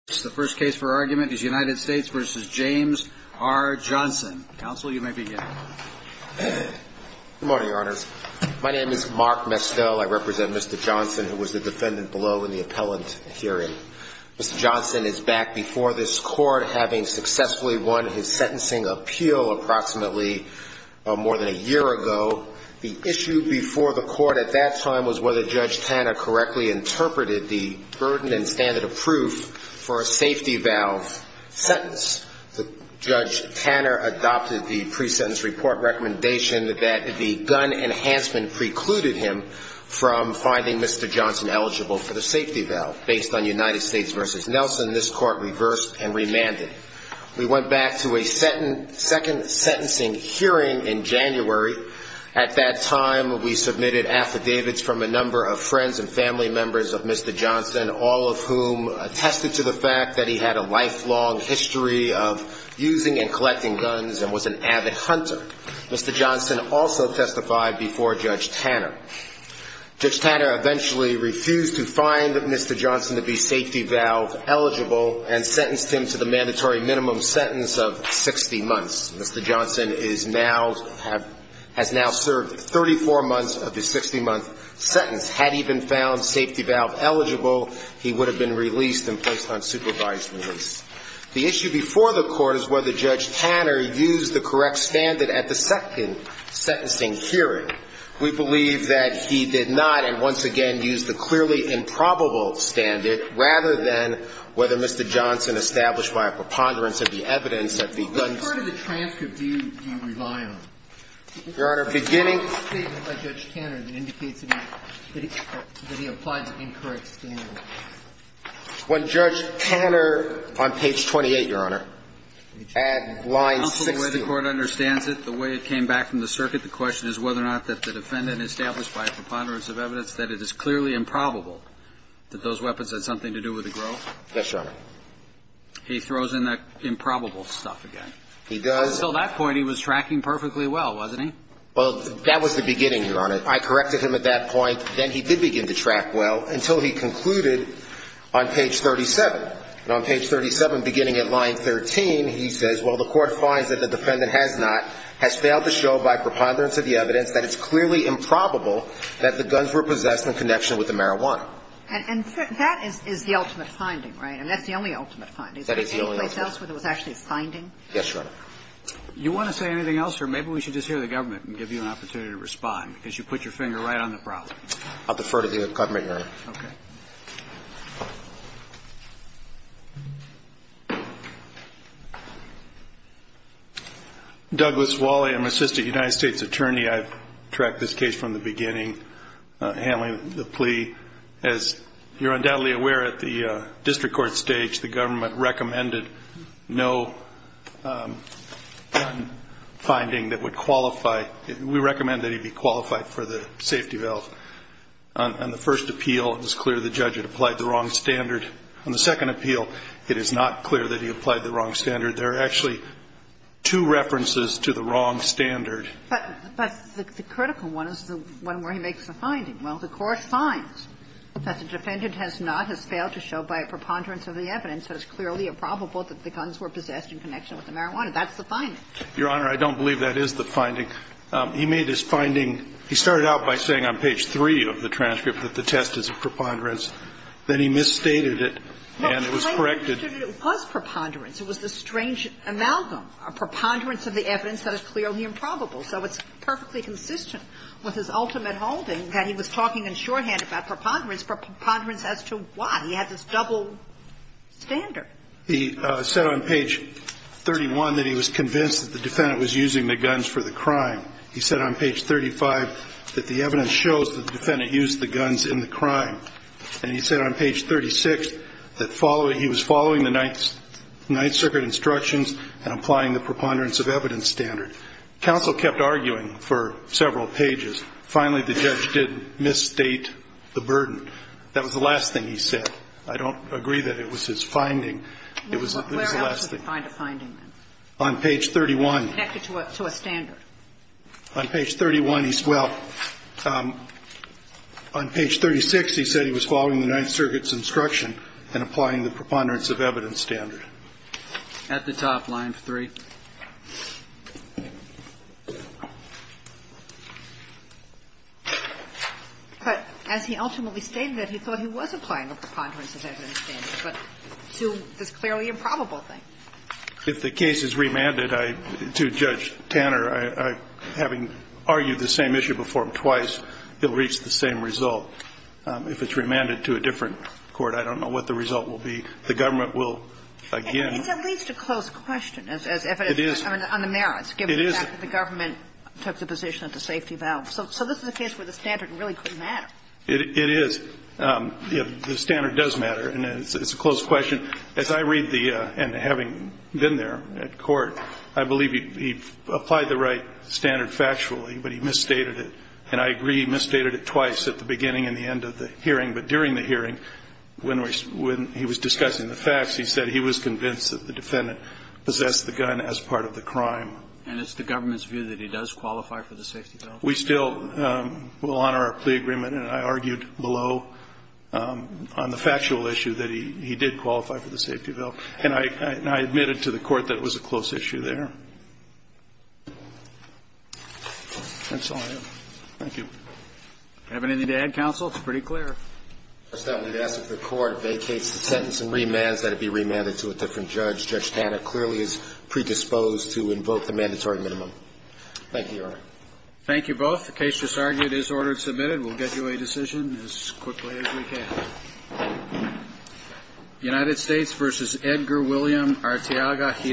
The first case for argument is United States v. James R. Johnson. Counsel, you may begin. Good morning, Your Honors. My name is Mark Mestel. I represent Mr. Johnson, who was the defendant below in the appellant hearing. Mr. Johnson is back before this Court, having successfully won his sentencing appeal approximately more than a year ago. The issue before the Court at that time was whether Judge Tanner correctly interpreted the burden and standard of proof for a safety valve sentence. Judge Tanner adopted the pre-sentence report recommendation that the gun enhancement precluded him from finding Mr. Johnson eligible for the safety valve. Based on United States v. Nelson, this Court reversed and remanded. We went back to a second sentencing hearing in January. At that time, we submitted affidavits from a number of friends and family members of Mr. Johnson, all of whom attested to the fact that he had a lifelong history of using and collecting guns and was an avid hunter. Mr. Johnson also testified before Judge Tanner. Judge Tanner eventually refused to find Mr. Johnson to be safety valve eligible and sentenced him to the mandatory minimum sentence of 60 months. Mr. Johnson has now served 34 months of his 60-month sentence. Had he been found safety valve eligible, he would have been released and placed on supervised release. The issue before the Court is whether Judge Tanner used the correct standard at the second sentencing hearing. We believe that he did not, and once again used the clearly improbable standard, rather than whether Mr. Johnson established by a preponderance of the evidence that the guns… What part of the transcript do you rely on? Your Honor, beginning… The statement by Judge Tanner that indicates that he applied the incorrect standard. When Judge Tanner, on page 28, Your Honor, at line 16… The way the Court understands it, the way it came back from the circuit, the question is whether or not that the defendant established by a preponderance of evidence that it is clearly improbable that those weapons had something to do with the grove. Yes, Your Honor. He throws in that improbable stuff again. He does. Until that point, he was tracking perfectly well, wasn't he? Well, that was the beginning, Your Honor. I corrected him at that point. Then he did begin to track well until he concluded on page 37. And on page 37, beginning at line 13, he says, well, the Court finds that the defendant has not, has failed to show by preponderance of the evidence that it's clearly improbable that the guns were possessed in connection with the marijuana. And that is the ultimate finding, right? And that's the only ultimate finding. That is the only ultimate finding. Is there any place else where there was actually a finding? Yes, Your Honor. You want to say anything else, or maybe we should just hear the government and give you an opportunity to respond, because you put your finger right on the problem. I'll defer to the government, Your Honor. Okay. Douglas Wally. I'm Assistant United States Attorney. I've tracked this case from the beginning, handling the plea. As you're undoubtedly aware, at the district court stage, the government recommended no finding that would qualify. We recommend that he be qualified for the safety valve. On the first appeal, it was clear the judge had applied the wrong standard. On the second appeal, it is not clear that he applied the wrong standard. There are actually two references to the wrong standard. But the critical one is the one where he makes the finding. Well, the court finds that the defendant has not, has failed to show by a preponderance of the evidence that it's clearly improbable that the guns were possessed in connection with the marijuana. That's the finding. Your Honor, I don't believe that is the finding. He made his finding. He started out by saying on page 3 of the transcript that the test is a preponderance. Then he misstated it, and it was corrected. No, the claim is that it was preponderance. It was the strange amalgam, a preponderance of the evidence that is clearly improbable. So it's perfectly consistent with his ultimate holding that he was talking in shorthand about preponderance, preponderance as to why. He had this double standard. He said on page 31 that he was convinced that the defendant was using the guns for the crime. He said on page 35 that the evidence shows that the defendant used the guns in the crime. And he said on page 36 that following, he was following the Ninth Circuit instructions and applying the preponderance of evidence standard. Counsel kept arguing for several pages. Finally, the judge did misstate the burden. That was the last thing he said. I don't agree that it was his finding. It was the last thing. Where else did he find a finding, then? On page 31. Connected to a standard. On page 31, he's, well, on page 36, he said he was following the Ninth Circuit's instruction and applying the preponderance of evidence standard. At the top, line 3. But as he ultimately stated it, he thought he was applying the preponderance of evidence standard, but to this clearly improbable thing. If the case is remanded, I, to Judge Tanner, I, having argued the same issue before him twice, he'll reach the same result. If it's remanded to a different court, I don't know what the result will be. The government will, again. It's at least a close question as evidence. It is. On the merits, given the fact that the government took the position at the safety valve. So this is a case where the standard really couldn't matter. It is. The standard does matter. And it's a close question. As I read the, and having been there at court, I believe he applied the right standard factually, but he misstated it. And I agree he misstated it twice, at the beginning and the end of the hearing. But during the hearing, when he was discussing the facts, he said he was convinced that the defendant possessed the gun as part of the crime. And it's the government's view that he does qualify for the safety valve? We still will honor our plea agreement, and I argued below on the factual issue that he did qualify for the safety valve. And I admitted to the court that it was a close issue there. That's all I have. Thank you. Do you have anything to add, counsel? It's pretty clear. I just wanted to ask if the court vacates the sentence and remands that it be remanded to a different judge. Judge Tanner clearly is predisposed to invoke the mandatory minimum. Thank you, Your Honor. Thank you both. The case just argued is ordered and submitted. We'll get you a decision as quickly as we can. United States v. Edgar William Arteaga.